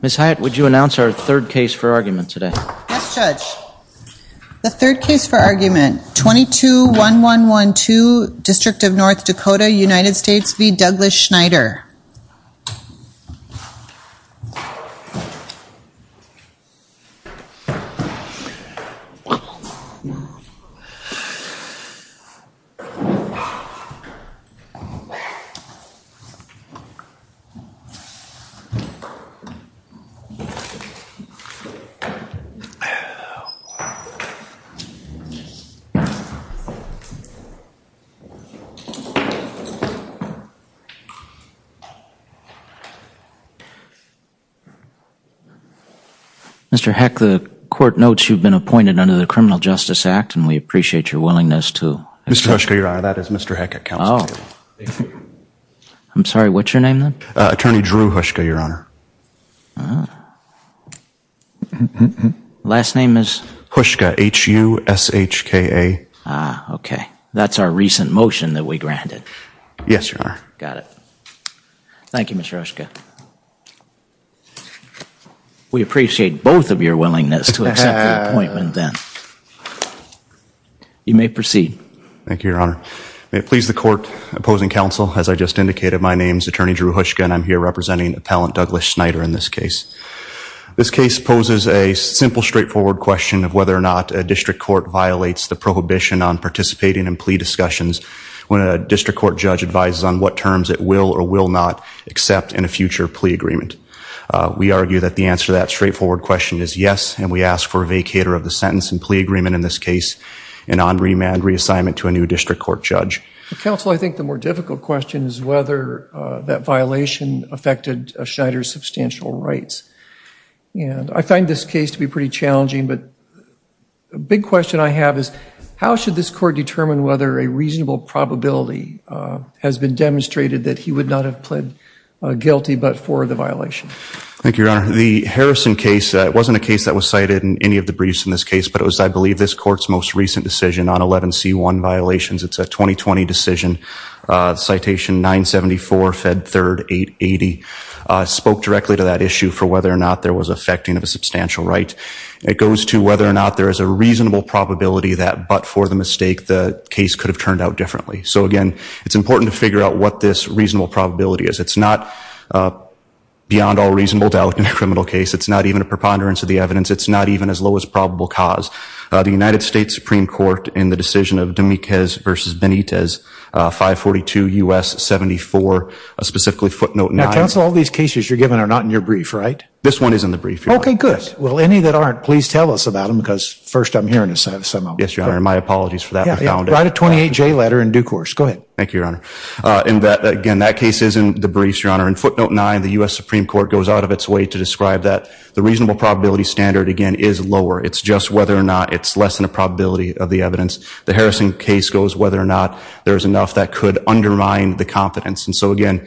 Ms. Hyatt, would you announce our third case for argument today? Yes, Judge. The third case for argument, 22-1112, District of North Dakota, United States v. Douglas Schneider. Mr. Heck, the court notes you've been appointed under the Criminal Justice Act, and we appreciate your willingness to... Mr. Hershker, Your Honor, that is Mr. Heck at counsel. Oh. I'm sorry, what's your name then? Attorney Drew Hershker, Your Honor. Last name is? Hershker, H-U-S-H-K-E-R. Ah, okay. That's our recent motion that we granted. Yes, Your Honor. Got it. Thank you, Mr. Hershker. We appreciate both of your willingness to accept the appointment then. Your Honor, may it please the court opposing counsel, as I just indicated, my name is Attorney Drew Hershker, and I'm here representing Appellant Douglas Schneider in this case. This case poses a simple, straightforward question of whether or not a district court violates the prohibition on participating in plea discussions when a district court judge advises on what terms it will or will not accept in a future plea agreement. We argue that the answer to that straightforward question is yes, and we ask for a vacator of the sentence and plea agreement in this case and on-remand reassignment to a new district court judge. Counsel, I think the more difficult question is whether that violation affected Schneider's substantial rights. And I find this case to be pretty challenging, but a big question I have is how should this court determine whether a reasonable probability has been demonstrated that he would not have pled guilty but for the violation? Thank you, Your Honor. The Harrison case wasn't a case that was cited in any of the briefs in this case, but it was, I believe, this is a 2020 decision, citation 974, Fed 3rd, 880, spoke directly to that issue for whether or not there was affecting of a substantial right. It goes to whether or not there is a reasonable probability that but for the mistake, the case could have turned out differently. So again, it's important to figure out what this reasonable probability is. It's not beyond all reasonable doubt in a criminal case. It's not even a preponderance of the evidence. It's not even as low as probable cause. The United States Supreme Court, in the decision of Dominguez v. Benitez, 542 U.S. 74, specifically footnote 9. Now, counsel, all these cases you're giving are not in your brief, right? This one is in the brief, Your Honor. Okay, good. Well, any that aren't, please tell us about them because first I'm hearing some of them. Yes, Your Honor, and my apologies for that. Write a 28-J letter in due course. Go ahead. Thank you, Your Honor. Again, that case is in the briefs, Your Honor. In footnote 9, the U.S. Supreme Court goes out of its way to describe that the reasonable probability standard, again, is lower. It's just whether or not it's less than a probability of the comparison case goes, whether or not there is enough that could undermine the confidence. And so, again,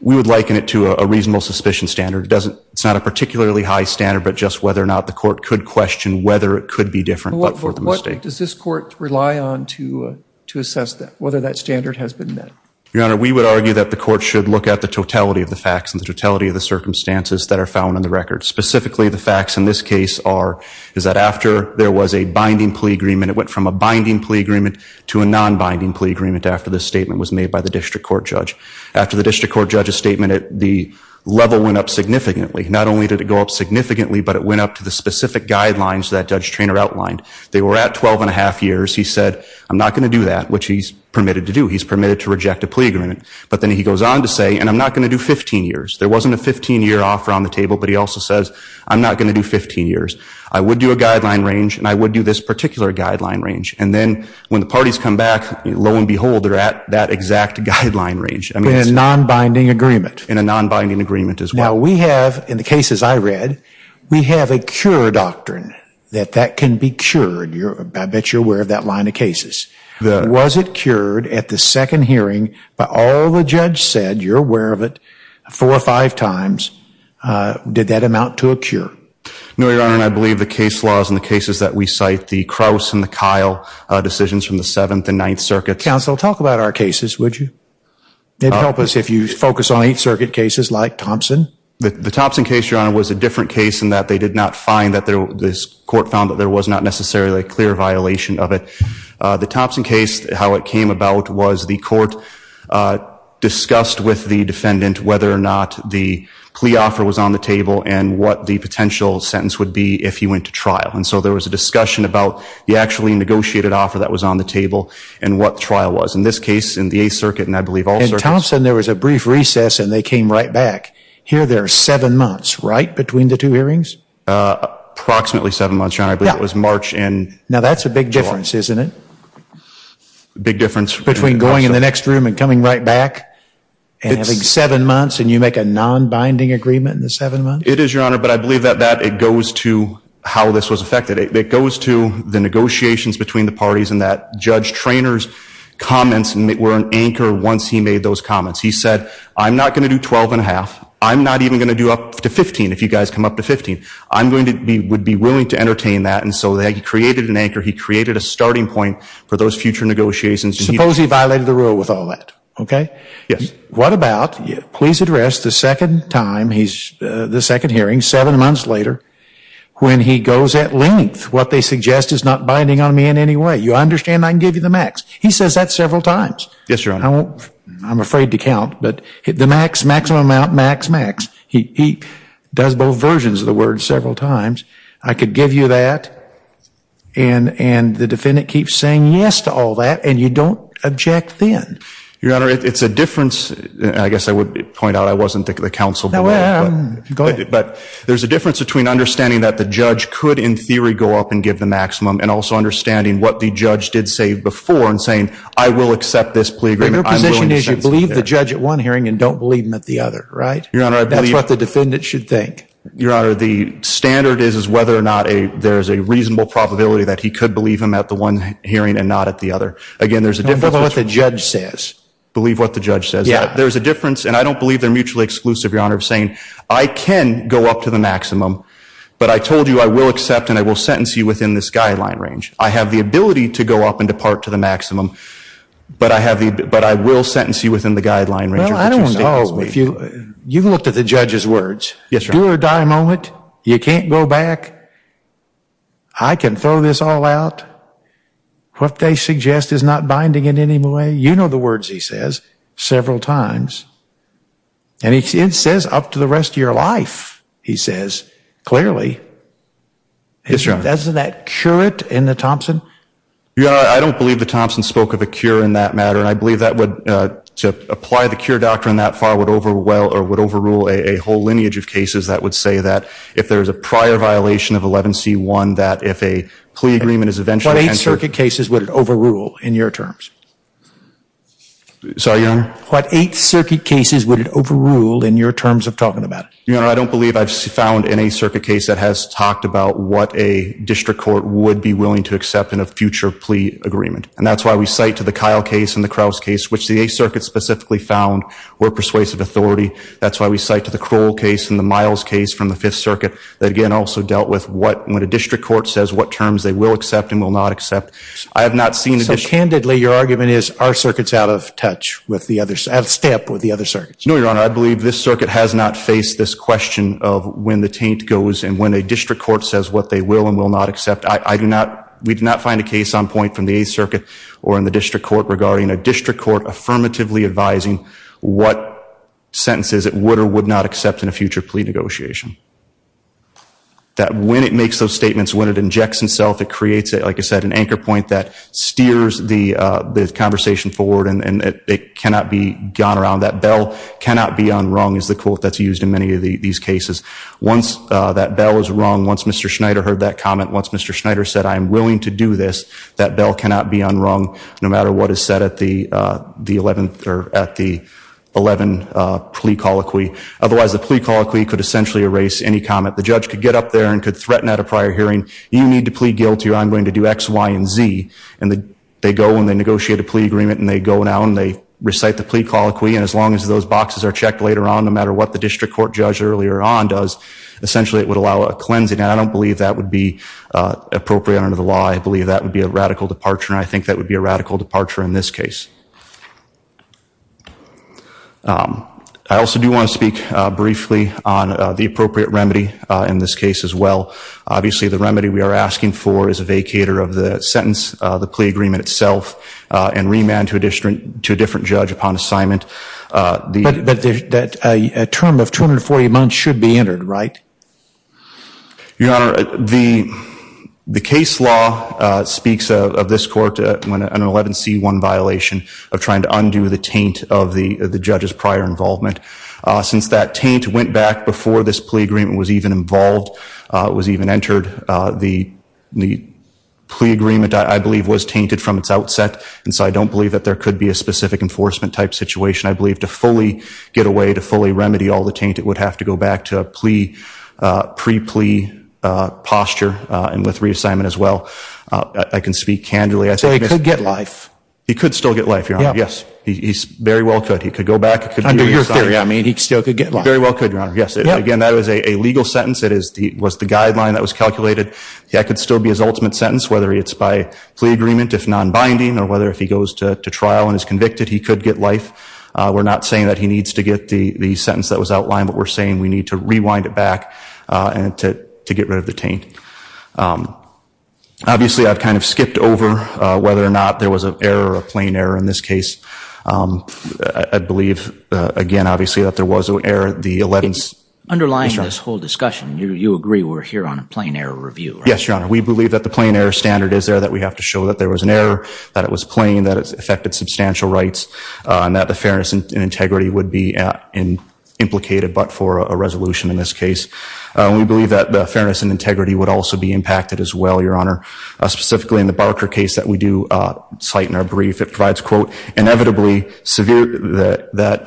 we would liken it to a reasonable suspicion standard. It's not a particularly high standard, but just whether or not the court could question whether it could be different but for the mistake. What does this court rely on to assess that, whether that standard has been met? Your Honor, we would argue that the court should look at the totality of the facts and the totality of the circumstances that are found in the records. Specifically, the facts in this case are, is that after there was a binding plea agreement, it went from a binding plea agreement to a non-binding plea agreement after this statement was made by the district court judge. After the district court judge's statement, the level went up significantly. Not only did it go up significantly, but it went up to the specific guidelines that Judge Treanor outlined. They were at 12 and a half years. He said, I'm not going to do that, which he's permitted to do. He's permitted to reject a plea agreement. But then he goes on to say, and I'm not going to do 15 years. There wasn't a 15-year offer on the table, but he also says, I'm not going to do 15 years. I would do a guideline range, and I would do this particular guideline range. And then when the parties come back, lo and behold, they're at that exact guideline range. In a non-binding agreement. In a non-binding agreement as well. Now we have, in the cases I read, we have a cure doctrine, that that can be cured. I bet you're aware of that line of cases. Was it cured at the second hearing by all the judge said, you're aware of it, four or five times, did that amount to a cure? No, Your Honor, and I believe the case laws and the cases that we cite, the Krauss and the Kyle decisions from the Seventh and Ninth Circuits. Counsel, talk about our cases, would you? It'd help us if you focus on Eighth Circuit cases like Thompson. The Thompson case, Your Honor, was a different case in that they did not find that there was, this court found that there was not necessarily a clear violation of it. The Thompson case, how it came about was the court discussed with the defendant whether or not the plea offer was on the table and what the potential sentence would be if he went to trial. And so there was a discussion about the actually negotiated offer that was on the table and what trial was. In this case, in the Eighth Circuit, and I believe all circuits. In Thompson, there was a brief recess and they came right back. Here, there are seven months, right, between the two hearings? Approximately seven months, Your Honor. I believe it was March and July. Now that's a big difference, isn't it? Big difference. Between going in the next room and coming right back and having seven months and you make a non-binding agreement in the seven months? It is, Your Honor, but I believe that that, it goes to how this was affected. It goes to the negotiations between the parties and that Judge Traynor's comments were an anchor once he made those comments. He said, I'm not going to do 12 and a half. I'm not even going to do up to 15, if you guys come up to 15. I'm going to be, would be willing to entertain that. And so he created an anchor. He created a starting point for those future negotiations. Suppose he violated the rule with all that, okay? Yes. What about, please address the second time, the second hearing, seven months later, when he goes at length, what they suggest is not binding on me in any way. You understand I can give you the max. He says that several times. Yes, Your Honor. I'm afraid to count, but the max, maximum amount, max, max. He does both versions of the word several times. I could give you that and the defendant keeps saying yes to all that and you don't object then. Your Honor, it's a difference, I guess I would point out I wasn't the counsel. No, go ahead. But there's a difference between understanding that the judge could, in theory, go up and give the maximum and also understanding what the judge did say before and saying, I will accept this plea agreement. Your position is you believe the judge at one hearing and don't believe him at the other, right? Your Honor, I believe. That's what the defendant should think. Your Honor, the standard is whether or not there's a reasonable probability that he could believe him at the one hearing and not at the other. Again, there's a difference. Believe what the judge says. Believe what the judge says. Yeah. There's a difference and I don't believe they're mutually exclusive, Your Honor, of saying, I can go up to the maximum, but I told you I will accept and I will sentence you within this guideline range. I have the ability to go up and depart to the maximum, but I will sentence you within the guideline range. Well, I don't know. You've looked at the judge's words. Do or die moment. You can't go back. I can throw this all out. What they suggest is not binding in any way. You know the words he says several times. And it says up to the rest of your life, he says, clearly. Yes, Your Honor. Doesn't that cure it in the Thompson? Your Honor, I don't believe the Thompson spoke of a cure in that matter and I believe that would, to apply the cure doctrine that far would overwhelm or would overrule a whole entire violation of 11C1 that if a plea agreement is eventually What 8th Circuit cases would it overrule in your terms? Sorry, Your Honor? What 8th Circuit cases would it overrule in your terms of talking about it? Your Honor, I don't believe I've found any circuit case that has talked about what a district court would be willing to accept in a future plea agreement. And that's why we cite to the Kyle case and the Krause case, which the 8th Circuit specifically found were persuasive authority. That's why we cite to the Kroll case and the Miles case from the dealt with what, when a district court says what terms they will accept and will not accept. I have not seen. So, candidly, your argument is our circuit's out of touch with the other, out of step with the other circuits. No, Your Honor. I believe this circuit has not faced this question of when the taint goes and when a district court says what they will and will not accept. I do not, we did not find a case on point from the 8th Circuit or in the district court regarding a district court affirmatively advising what sentences it would or would not accept in a future plea negotiation. That when it makes those statements, when it injects itself, it creates it, like I said, an anchor point that steers the conversation forward and it cannot be gone around. That bell cannot be unrung is the quote that's used in many of these cases. Once that bell is rung, once Mr. Schneider heard that comment, once Mr. Schneider said, I am willing to do this, that bell cannot be unrung no matter what is said at the 11th or at the 11 plea colloquy. Otherwise, the plea colloquy could essentially erase any comment. The judge could get up there and could threaten at a prior hearing, you need to plea guilty or I'm going to do X, Y, and Z. And they go and they negotiate a plea agreement and they go now and they recite the plea colloquy and as long as those boxes are checked later on, no matter what the district court judge earlier on does, essentially it would allow a cleansing. And I don't believe that would be appropriate under the law. I believe that would be a radical departure and I think that would be a radical departure in this case. I also do want to speak briefly on the appropriate remedy in this case as well. Obviously, the remedy we are asking for is a vacator of the sentence, the plea agreement itself, and remand to a different judge upon assignment. That a term of 240 months should be entered, right? Your Honor, the case law speaks of this court when an 11C1 violation of trying to undo the taint of the judge's prior involvement. Since that taint went back before this plea agreement was even involved, was even entered, the plea agreement, I believe, was tainted from its outset and so I don't believe that there could be a specific enforcement type situation. I believe to fully get away, to fully remedy all the taint, it would have to go back to the plea, pre-plea posture and with reassignment as well. I can speak candidly, I think... So he could get life? He could still get life, Your Honor, yes. He very well could. He could go back, he could be reassigned. Under your theory, I mean, he still could get life? Very well could, Your Honor, yes. Again, that was a legal sentence. It was the guideline that was calculated. That could still be his ultimate sentence, whether it's by plea agreement if non-binding or whether if he goes to trial and is convicted, he could get life. We're not saying that he needs to get the sentence that was outlined, but we're saying we need to rewind it back and to get rid of the taint. Obviously, I've kind of skipped over whether or not there was an error, a plain error in this case. I believe, again, obviously, that there was an error, the 11th... Underlying this whole discussion, you agree we're here on a plain error review, right? Yes, Your Honor. We believe that the plain error standard is there, that we have to show that there was an error, that it was plain, that it affected substantial rights and that the fairness and integrity would be implicated, but for a resolution in this case. We believe that the fairness and integrity would also be impacted as well, Your Honor, specifically in the Barker case that we do cite in our brief. It provides, quote, inevitably severe... That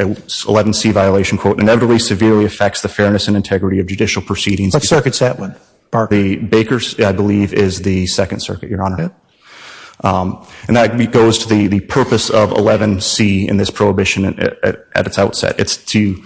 11C violation, quote, inevitably severely affects the fairness and integrity of judicial proceedings... What circuit's that one, Barker? The Bakers, I believe, is the Second Circuit, Your Honor, and that goes to the purpose of in this prohibition at its outset. It's to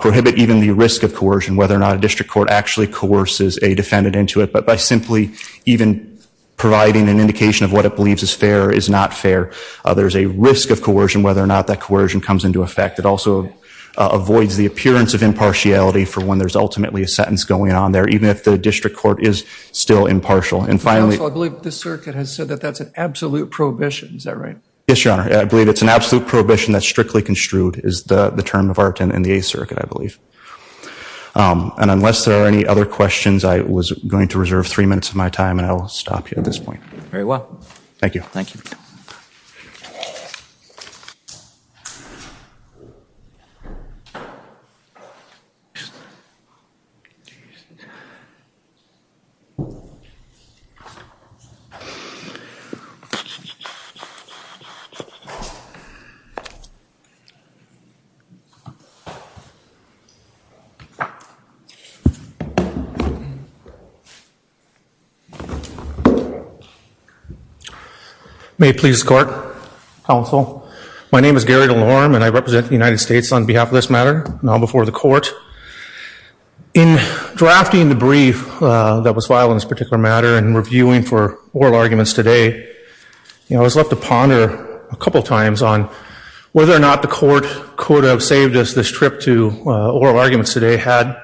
prohibit even the risk of coercion, whether or not a district court actually coerces a defendant into it, but by simply even providing an indication of what it believes is fair or is not fair, there's a risk of coercion, whether or not that coercion comes into effect. It also avoids the appearance of impartiality for when there's ultimately a sentence going on there, even if the district court is still impartial. And finally... Also, I believe the circuit has said that that's an absolute prohibition. Is that right? Yes, Your Honor. I believe it's an absolute prohibition that's strictly construed, is the term of art in the Eighth Circuit, I believe. And unless there are any other questions, I was going to reserve three minutes of my time and I'll stop you at this point. Very well. Thank you. Thank you. May it please the Court, Counsel. My name is Gary DeLorme and I represent the United States on behalf of this matter, now before the Court. In drafting the brief that was on whether or not the Court could have saved us this trip to oral arguments today had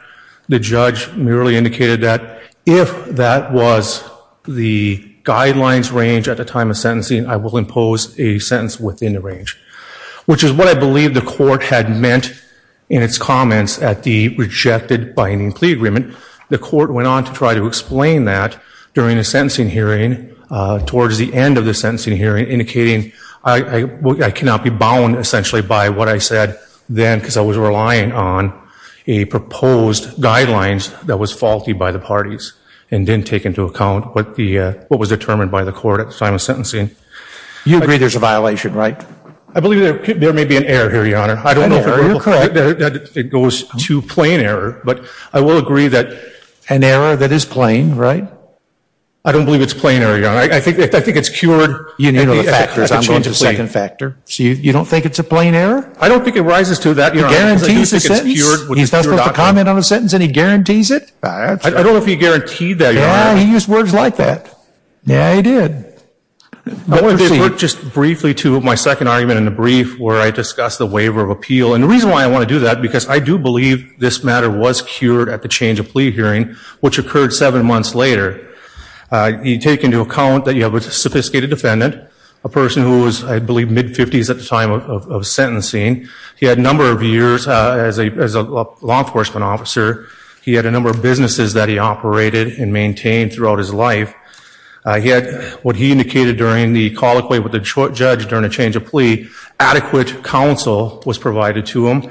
the judge merely indicated that if that was the guidelines range at the time of sentencing, I will impose a sentence within the range, which is what I believe the Court had meant in its comments at the rejected binding plea agreement. The Court went on to try to explain that during the sentencing hearing, towards the end of the sentencing hearing, indicating I cannot be bound, essentially, by what I said then because I was relying on a proposed guidelines that was faulty by the parties and didn't take into account what was determined by the Court at the time of sentencing. You agree there's a violation, right? I believe there may be an error here, Your Honor. I don't know if it goes to plain error, but I will agree that... I don't believe it's plain error, Your Honor. I think it's cured... You know the factors. I'm going to change the second factor. So you don't think it's a plain error? I don't think it rises to that, Your Honor. He guarantees the sentence? He just puts a comment on a sentence and he guarantees it? I don't know if he guaranteed that, Your Honor. Yeah, he used words like that. Yeah, he did. I want to defer just briefly to my second argument in the brief where I discuss the waiver of appeal. And the reason why I want to do that, because I do believe this matter was cured at the change of plea hearing, which occurred seven months later. You take into account that you have a sophisticated defendant, a person who was, I believe, mid-50s at the time of sentencing. He had a number of years as a law enforcement officer. He had a number of businesses that he operated and maintained throughout his life. He had, what he indicated during the colloquy with the judge during the change of plea, adequate counsel was provided to him.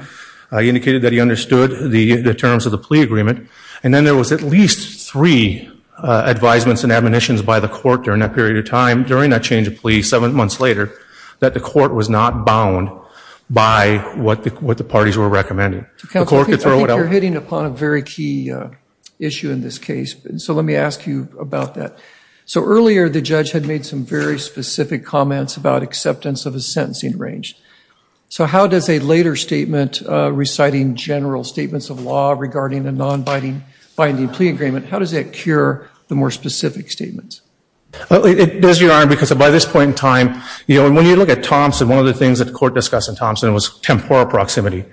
He indicated that he understood the terms of the plea agreement. And then there was at least three advisements and admonitions by the court during that period of time, during that change of plea, seven months later, that the court was not bound by what the parties were recommending. Counsel, I think you're hitting upon a very key issue in this case. So let me ask you about that. So earlier, the judge had made some very specific comments about acceptance of a sentencing range. So how does a later statement reciting general statements of law regarding a non-binding plea agreement, how does that cure the more specific statements? It does, Your Honor, because by this point in time, you know, when you look at Thompson, one of the things that the court discussed in Thompson was temporal proximity.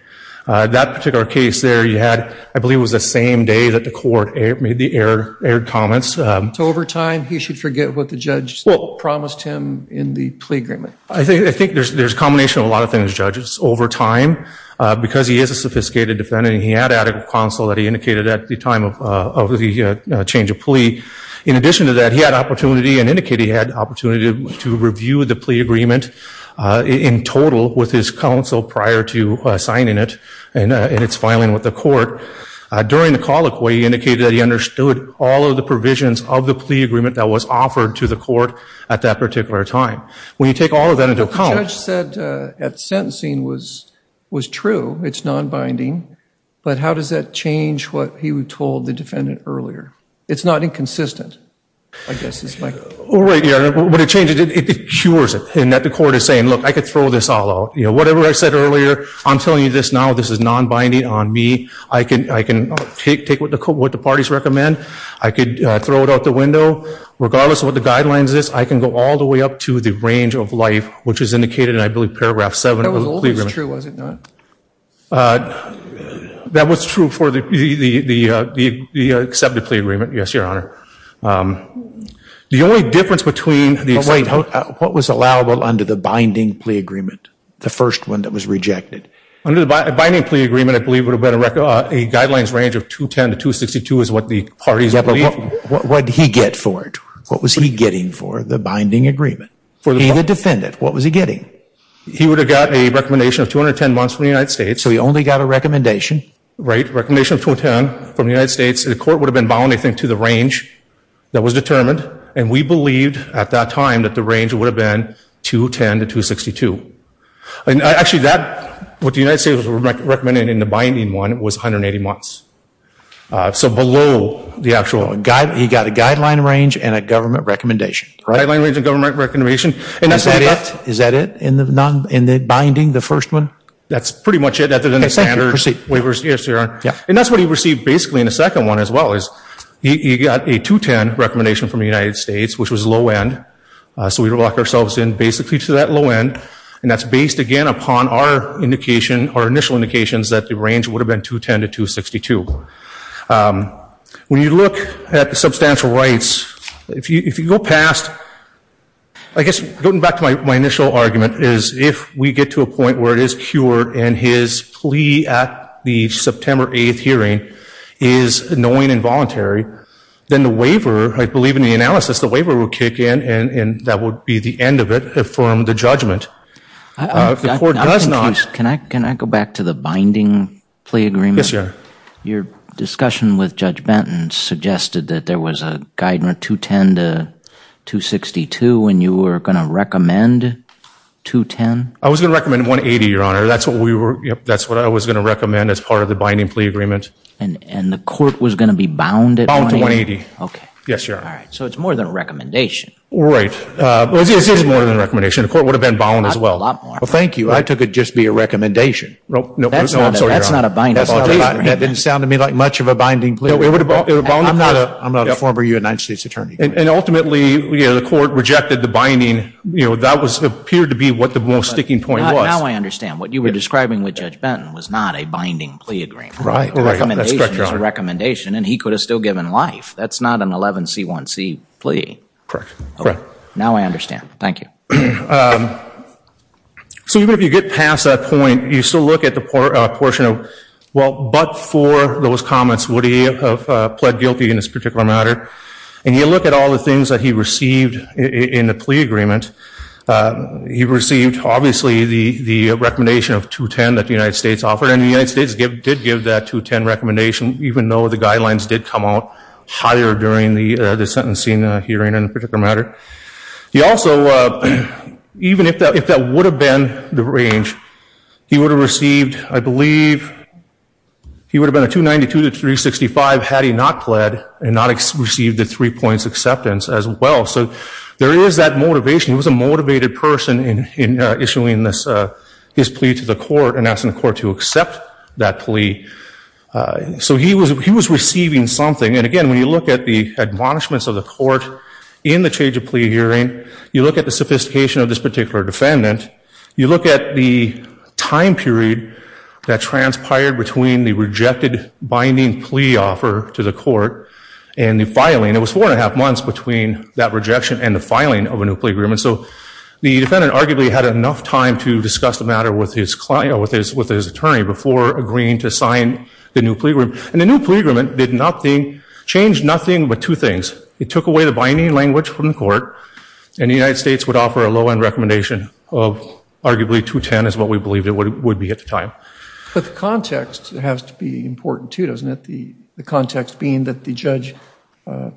That particular case there, you had, I believe it was the same day that the court made the aired comments. So over time, he should forget what the judge promised him in the plea agreement? I think there's a combination of a lot of things, judges. Over time, because he is a sophisticated defendant and he had adequate counsel that he indicated at the time of the change of plea. In addition to that, he had opportunity and indicated he had opportunity to review the plea agreement in total with his counsel prior to signing it and its filing with the court. During the colloquy, he indicated that he understood all of the provisions of that particular time. When you take all of that into account... But the judge said at sentencing was true, it's non-binding. But how does that change what he told the defendant earlier? It's not inconsistent, I guess is my... Right, Your Honor. When it changes, it cures it in that the court is saying, look, I could throw this all out. You know, whatever I said earlier, I'm telling you this now, this is non-binding on me. I can take what the parties recommend. I could throw it out the window. Regardless of what the guidelines is, I can go all the way up to the range of life, which is indicated in, I believe, Paragraph 7 of the plea agreement. That was always true, was it not? That was true for the accepted plea agreement, yes, Your Honor. The only difference between the... But wait, what was allowable under the binding plea agreement, the first one that was rejected? Under the binding plea agreement, I believe it would have been a guidelines range of 210 to 262 is what the parties believe. What did he get for it? What was he getting for the binding agreement? He, the defendant, what was he getting? He would have got a recommendation of 210 months from the United States. So he only got a recommendation? Right, recommendation of 210 from the United States. The court would have been bound, I think, to the range that was determined. And we believed at that time that the range would have been 210 to 262. And actually, that, what the United States was recommending in the binding one was 180 months. So below the actual... He got a guideline range and a government recommendation, right? Guideline range and government recommendation. And that's what he got... Is that it? In the binding, the first one? That's pretty much it, other than the standard waivers, yes, Your Honor. And that's what he received, basically, in the second one as well, is he got a 210 recommendation from the United States, which was low end. So we would lock ourselves in, basically, to that low end. And that's based, again, upon our indication, our initial indications that the range would have been 210 to 262. When you look at the substantial rights, if you go past... I guess, going back to my initial argument, is if we get to a point where it is cured and his plea at the September 8th hearing is knowing and voluntary, then the waiver, I believe in the analysis, the waiver would kick in and that would be the end of the judgment. If the court does not... I'm confused. Can I go back to the binding plea agreement? Yes, Your Honor. Your discussion with Judge Benton suggested that there was a guideline 210 to 262 and you were going to recommend 210? I was going to recommend 180, Your Honor. That's what I was going to recommend as part of the binding plea agreement. And the court was going to be bound at 180? Bound to 180. Okay. Yes, Your Honor. All right. So it's more than a recommendation. Right. Well, it is more than a recommendation. The court would have been bound as well. A lot more. Well, thank you. I took it just to be a recommendation. No, I'm sorry, Your Honor. That's not a binding plea agreement. That didn't sound to me like much of a binding plea agreement. I'm not a former United States attorney. And ultimately, the court rejected the binding. That appeared to be what the most sticking point was. Now I understand. What you were describing with Judge Benton was not a binding plea agreement. Right. That's correct, Your Honor. A recommendation is a recommendation and he could have still given life. That's not an 11C1C plea. Correct. Now I understand. Thank you. So even if you get past that point, you still look at the portion of, well, but for those comments, would he have pled guilty in this particular matter? And you look at all the things that he received in the plea agreement, he received obviously the recommendation of 210 that the United States offered. And the United States did give that 210 recommendation, even though the guidelines did come out higher during the sentencing hearing in a particular matter. He also, even if that would have been the range, he would have received, I believe, he would have been a 292 to 365 had he not pled and not received the three points acceptance as well. So there is that motivation. He was a motivated person in issuing this, his plea to the court and asking the court to accept that plea. So he was receiving something. And again, when you look at the admonishments of the court in the change of plea hearing, you look at the sophistication of this particular defendant, you look at the time period that transpired between the rejected binding plea offer to the court and the filing. It was four and a half months between that rejection and the filing of a new plea agreement. So the defendant arguably had enough time to discuss the matter with his attorney before agreeing to sign the new plea agreement. And the new plea agreement did nothing, changed nothing but two things. It took away the binding language from the court and the United States would offer a low-end recommendation of arguably 210 is what we believed it would be at the time. But the context has to be important too, doesn't it? The context being that the judge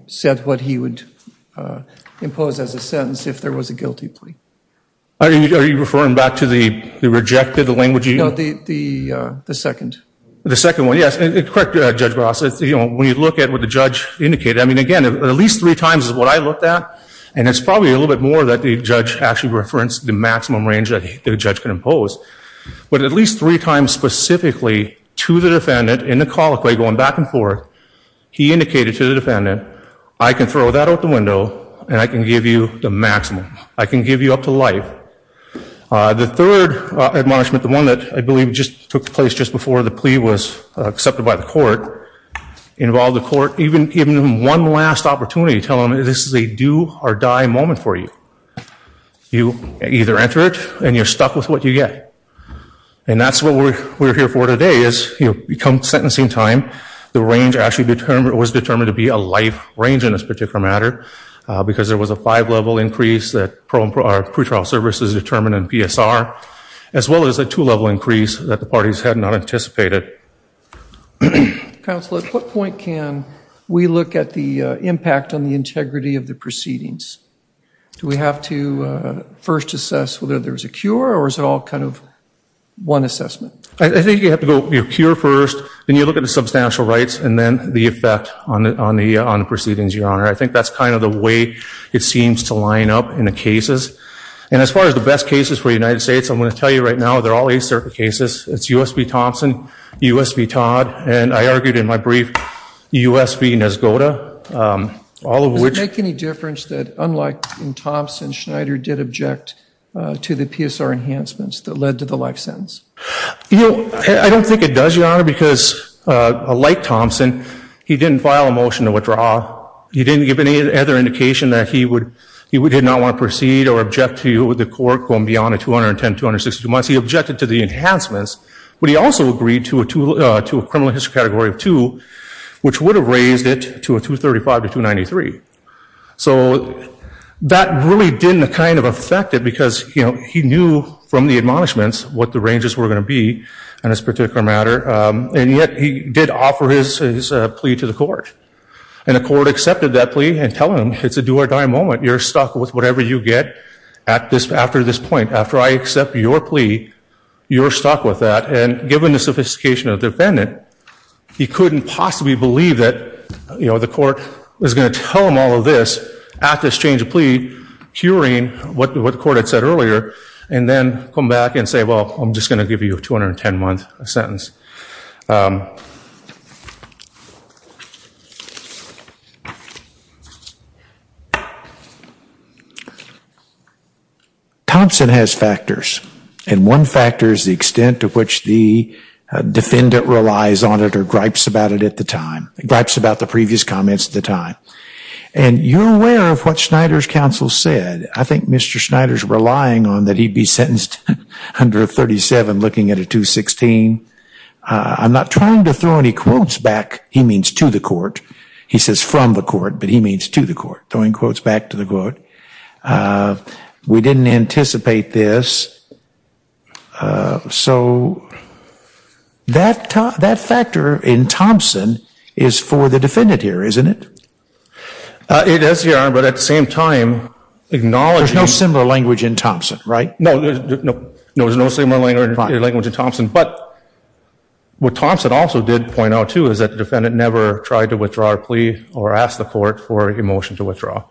said what he would impose as a sentence if there was a guilty plea. Are you referring back to the rejected language? No, the second. The second one, yes. Correct, Judge Barras. When you look at what the judge indicated, I mean, again, at least three times is what I looked at. And it's probably a little bit more that the judge actually referenced the maximum range that the judge could impose. But at least three times specifically to the defendant in the colloquy going back and forth, he indicated to the defendant, I can throw that out the window and I can give you the maximum. I can give you up to life. The third admonishment, the one that I believe just took place just before the plea was accepted by the court, involved the court even one last opportunity to tell them this is a do or die moment for you. You either enter it and you're stuck with what you get. And that's what we're here for today is, you know, come sentencing time, the range actually was determined to be a life range in this particular matter because there was a five-level increase that our pretrial services determined in PSR as well as a two-level increase that the parties had not anticipated. Counsel, at what point can we look at the impact on the integrity of the proceedings? Do we have to first assess whether there's a cure or is it all kind of one assessment? I think you have to go, your cure first, then you look at the substantial rights and then the effect on the proceedings, Your Honor. I think that's kind of the way it seems to line up in the cases. And as far as the best cases for the United States, I'm going to tell you right now, they're all eight-circle cases. It's U.S. v. Thompson, U.S. v. Todd, and I argued in my brief, U.S. v. Neskoda, all of which- Does it make any difference that, unlike in Thompson, Schneider did object to the PSR enhancements that led to the life sentence? I don't think it does, Your Honor, because, like Thompson, he didn't file a motion to withdraw. He didn't give any other indication that he did not want to proceed or object to the court going beyond a 210-262 months. He objected to the enhancements, but he also agreed to a criminal history category of two, which would have raised it to a 235-293. So that really didn't kind of affect it because he knew from the admonishments what the ranges were going to be in this particular matter, and yet he did offer his plea to the court. And the court accepted that plea and tell him it's a do-or-die moment. You're stuck with whatever you get after this point. After I accept your plea, you're stuck with that. And given the sophistication of the defendant, he couldn't possibly believe that, you know, the court was going to tell him all of this at this change of plea, curing what the court had said earlier, and then come back and say, well, I'm just going to give you a 210-month sentence. Thompson has factors. And one factor is the extent to which the defendant relies on it or gripes about it at the time, gripes about the previous comments at the time. And you're aware of what Schneider's counsel said. I think Mr. Schneider's relying on that he be sentenced under a 37 looking at a 216. I'm not trying to throw any quotes back. He means to the court. He says from the court, but he means to the court. Throwing quotes back to the court. We didn't anticipate this. So that factor in Thompson is for the defendant here, isn't it? It is, Your Honor, but at the same time acknowledging. There's no similar language in Thompson, right? No, there's no similar language in Thompson. But what Thompson also did point out, too, is that the defendant never tried to withdraw a plea or asked the court for a motion to withdraw.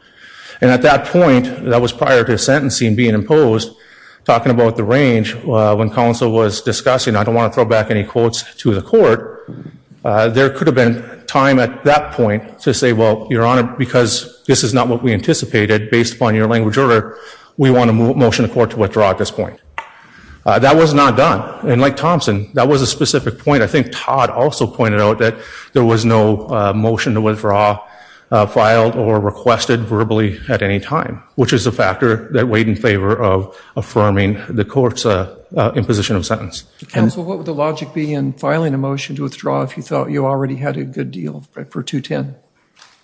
And at that point, that was prior to sentencing being imposed, talking about the range, when counsel was discussing, I don't want to throw back any quotes to the court, there could have been time at that point to say, well, Your Honor, because this is not what we anticipated based upon your language order, we want a motion to the court to withdraw at this point. That was not done. And like Thompson, that was a specific point. I think Todd also pointed out that there was no motion to withdraw filed or requested verbally at any time, which is a factor that weighed in favor of affirming the court's imposition of sentence. Counsel, what would the logic be in filing a motion to withdraw if you thought you already had a good deal for 210?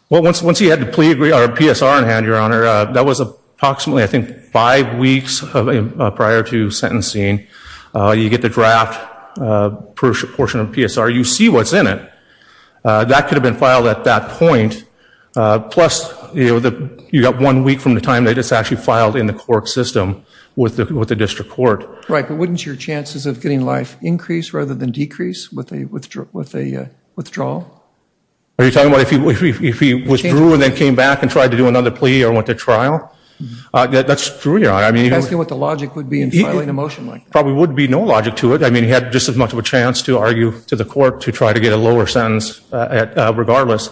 Well, once he had the PSR in hand, Your Honor, that was approximately, I think, five weeks prior to sentencing. You get the draft portion of PSR. You see what's in it. That could have been filed at that point. Plus you got one week from the time that it's actually filed in the court system with the district court. Right, but wouldn't your chances of getting life increase rather than decrease with a withdrawal? Are you talking about if he withdrew and then came back and tried to do another plea or went to trial? That's true, Your Honor. I'm asking what the logic would be in filing a motion like that. Probably would be no logic to it. I mean, he had just as much of a chance to argue to the court to try to get a lower sentence regardless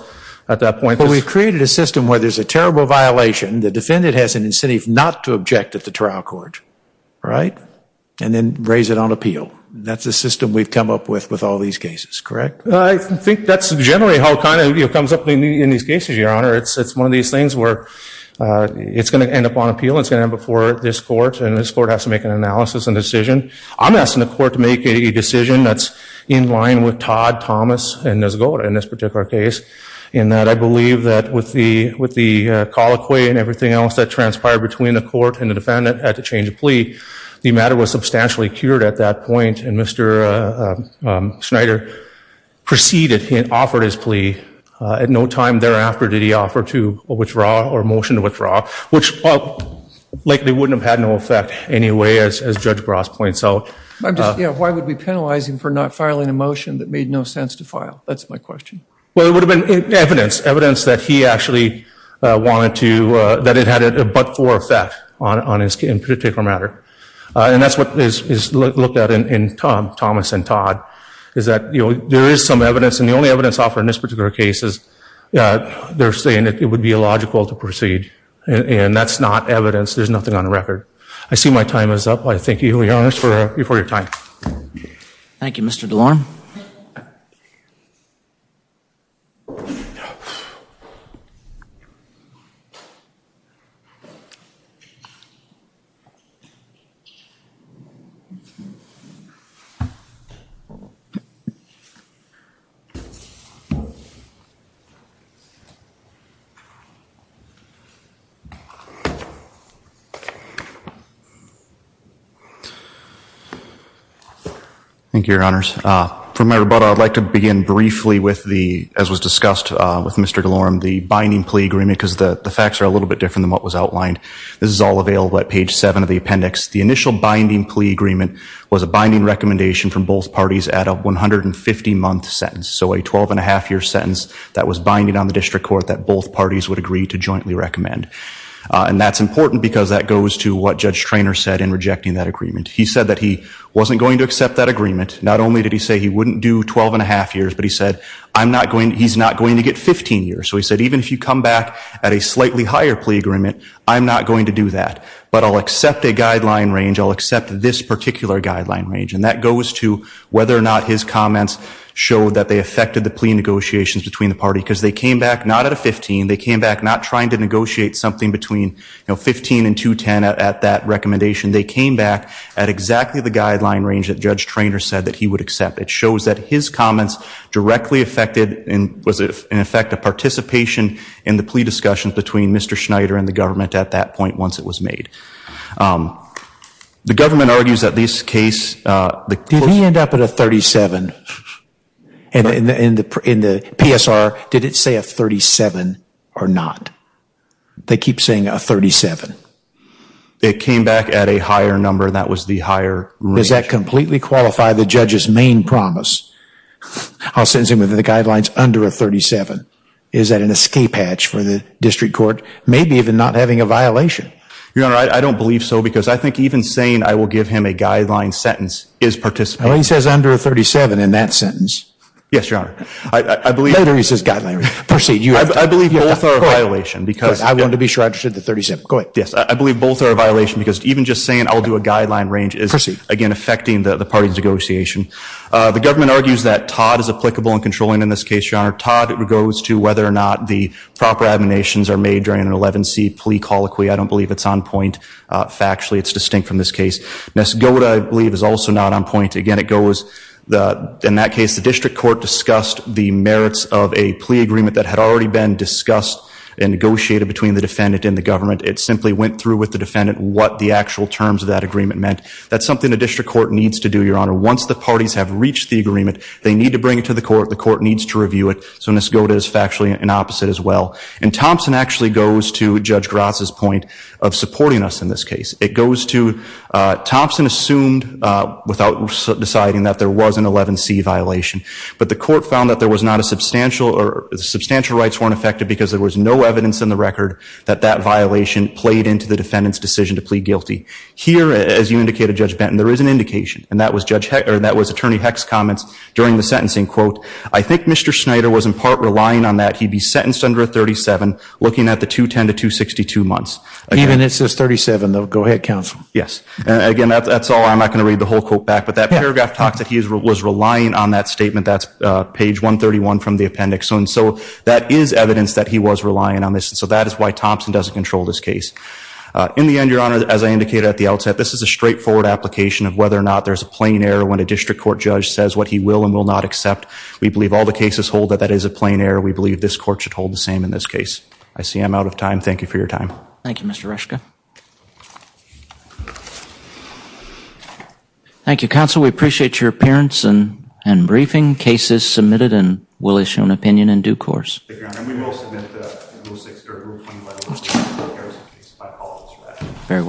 at that point. But we created a system where there's a terrible violation. The defendant has an incentive not to object at the trial court, right, and then raise it on appeal. That's the system we've come up with with all these cases, correct? I think that's generally how it kind of comes up in these cases, Your Honor. It's one of these things where it's going to end up on appeal. It's going to end up before this court, and this court has to make an analysis and decision. I'm asking the court to make a decision that's in line with Todd, Thomas, and Nesgoda in this particular case in that I believe that with the colloquy and everything else that transpired between the court and the defendant at the change of plea, the matter was substantially cured at that point. And Mr. Schneider proceeded and offered his plea. At no time thereafter did he offer to withdraw or motion to withdraw, which likely wouldn't have had no effect anyway, as Judge Bras points out. Why would we penalize him for not filing a motion that made no sense to file? That's my question. Well, it would have been evidence, evidence that he actually wanted to, that it had a but-for effect on his particular matter. And that's what is looked at in Thomas and Todd, is that there is some evidence, and the only evidence offered in this particular case is they're saying that it would be illogical to proceed. And that's not evidence. There's nothing on record. I see my time is up. I thank you, Your Honor, for your time. Thank you, Mr. DeLorme. Thank you. Thank you, Your Honors. For my rebuttal, I'd like to begin briefly with the, as was discussed with Mr. DeLorme, the binding plea agreement because the facts are a little bit different than what was outlined. This is all available at page 7 of the appendix. The initial binding plea agreement was a binding recommendation from both parties at a 150-month sentence, so a 12-and-a-half-year sentence that was binding on the district court that both parties would agree to jointly recommend. And that's important because that goes to what Judge Treanor said in rejecting that agreement. He said that he wasn't going to accept that agreement. Not only did he say he wouldn't do 12-and-a-half years, but he said, I'm not going, he's not going to get 15 years. So he said, even if you come back at a slightly higher plea agreement, I'm not going to do that. But I'll accept a guideline range. I'll accept this particular guideline range. And that goes to whether or not his comments showed that they affected the plea negotiations between the parties because they came back not at a 15. They came back not trying to negotiate something between 15 and 210 at that recommendation. They came back at exactly the guideline range that Judge Treanor said that he would accept. It shows that his comments directly affected and was, in effect, a participation in the plea discussions between Mr. Schneider and the government at that point once it was made. The government argues that this case, the courts- Did he end up at a 37? In the PSR, did it say a 37 or not? They keep saying a 37. It came back at a higher number. That was the higher range. Does that completely qualify the judge's main promise? I'll sentence him with the guidelines under a 37. Is that an escape hatch for the district court? Maybe even not having a violation. Your Honor, I don't believe so because I think even saying I will give him a guideline sentence is participating. Well, he says under a 37 in that sentence. Yes, Your Honor. I believe- Later he says guideline range. Proceed. I believe both are a violation because- I wanted to be sure I understood the 37. Go ahead. Yes, I believe both are a violation because even just saying I'll do a guideline range is- In effecting the party's negotiation. The government argues that Todd is applicable and controlling in this case, Your Honor. Todd goes to whether or not the proper admonitions are made during an 11C plea colloquy. I don't believe it's on point factually. It's distinct from this case. Nesgoda, I believe, is also not on point. Again, it goes- In that case, the district court discussed the merits of a plea agreement that had already been discussed and negotiated between the defendant and the government. It simply went through with the defendant what the actual terms of that agreement meant. That's something the district court needs to do, Your Honor. Once the parties have reached the agreement, they need to bring it to the court. The court needs to review it. So Nesgoda is factually an opposite as well. And Thompson actually goes to Judge Gratz's point of supporting us in this case. It goes to Thompson assumed without deciding that there was an 11C violation. But the court found that there was not a substantial- Substantial rights weren't affected because there was no evidence in the record that that violation played into the defendant's decision to plead guilty. Here, as you indicated, Judge Benton, there is an indication. And that was Attorney Hecht's comments during the sentencing. Quote, I think Mr. Schneider was in part relying on that he be sentenced under a 37 looking at the 210 to 262 months. Even if it says 37, though. Go ahead, counsel. Yes. Again, that's all. I'm not going to read the whole quote back. But that paragraph talks that he was relying on that statement. That's page 131 from the appendix. And so that is evidence that he was relying on this. And so that is why Thompson doesn't control this case. In the end, Your Honor, as I indicated at the outset, this is a straightforward application of whether or not there's a plain error when a district court judge says what he will and will not accept. We believe all the cases hold that that is a plain error. We believe this court should hold the same in this case. I see I'm out of time. Thank you for your time. Thank you, Mr. Reschke. Thank you, counsel. We appreciate your appearance and briefing. Case is submitted and will issue an opinion in due course. Thank you, Your Honor. And we will submit the rule six, or rule 25. Very well.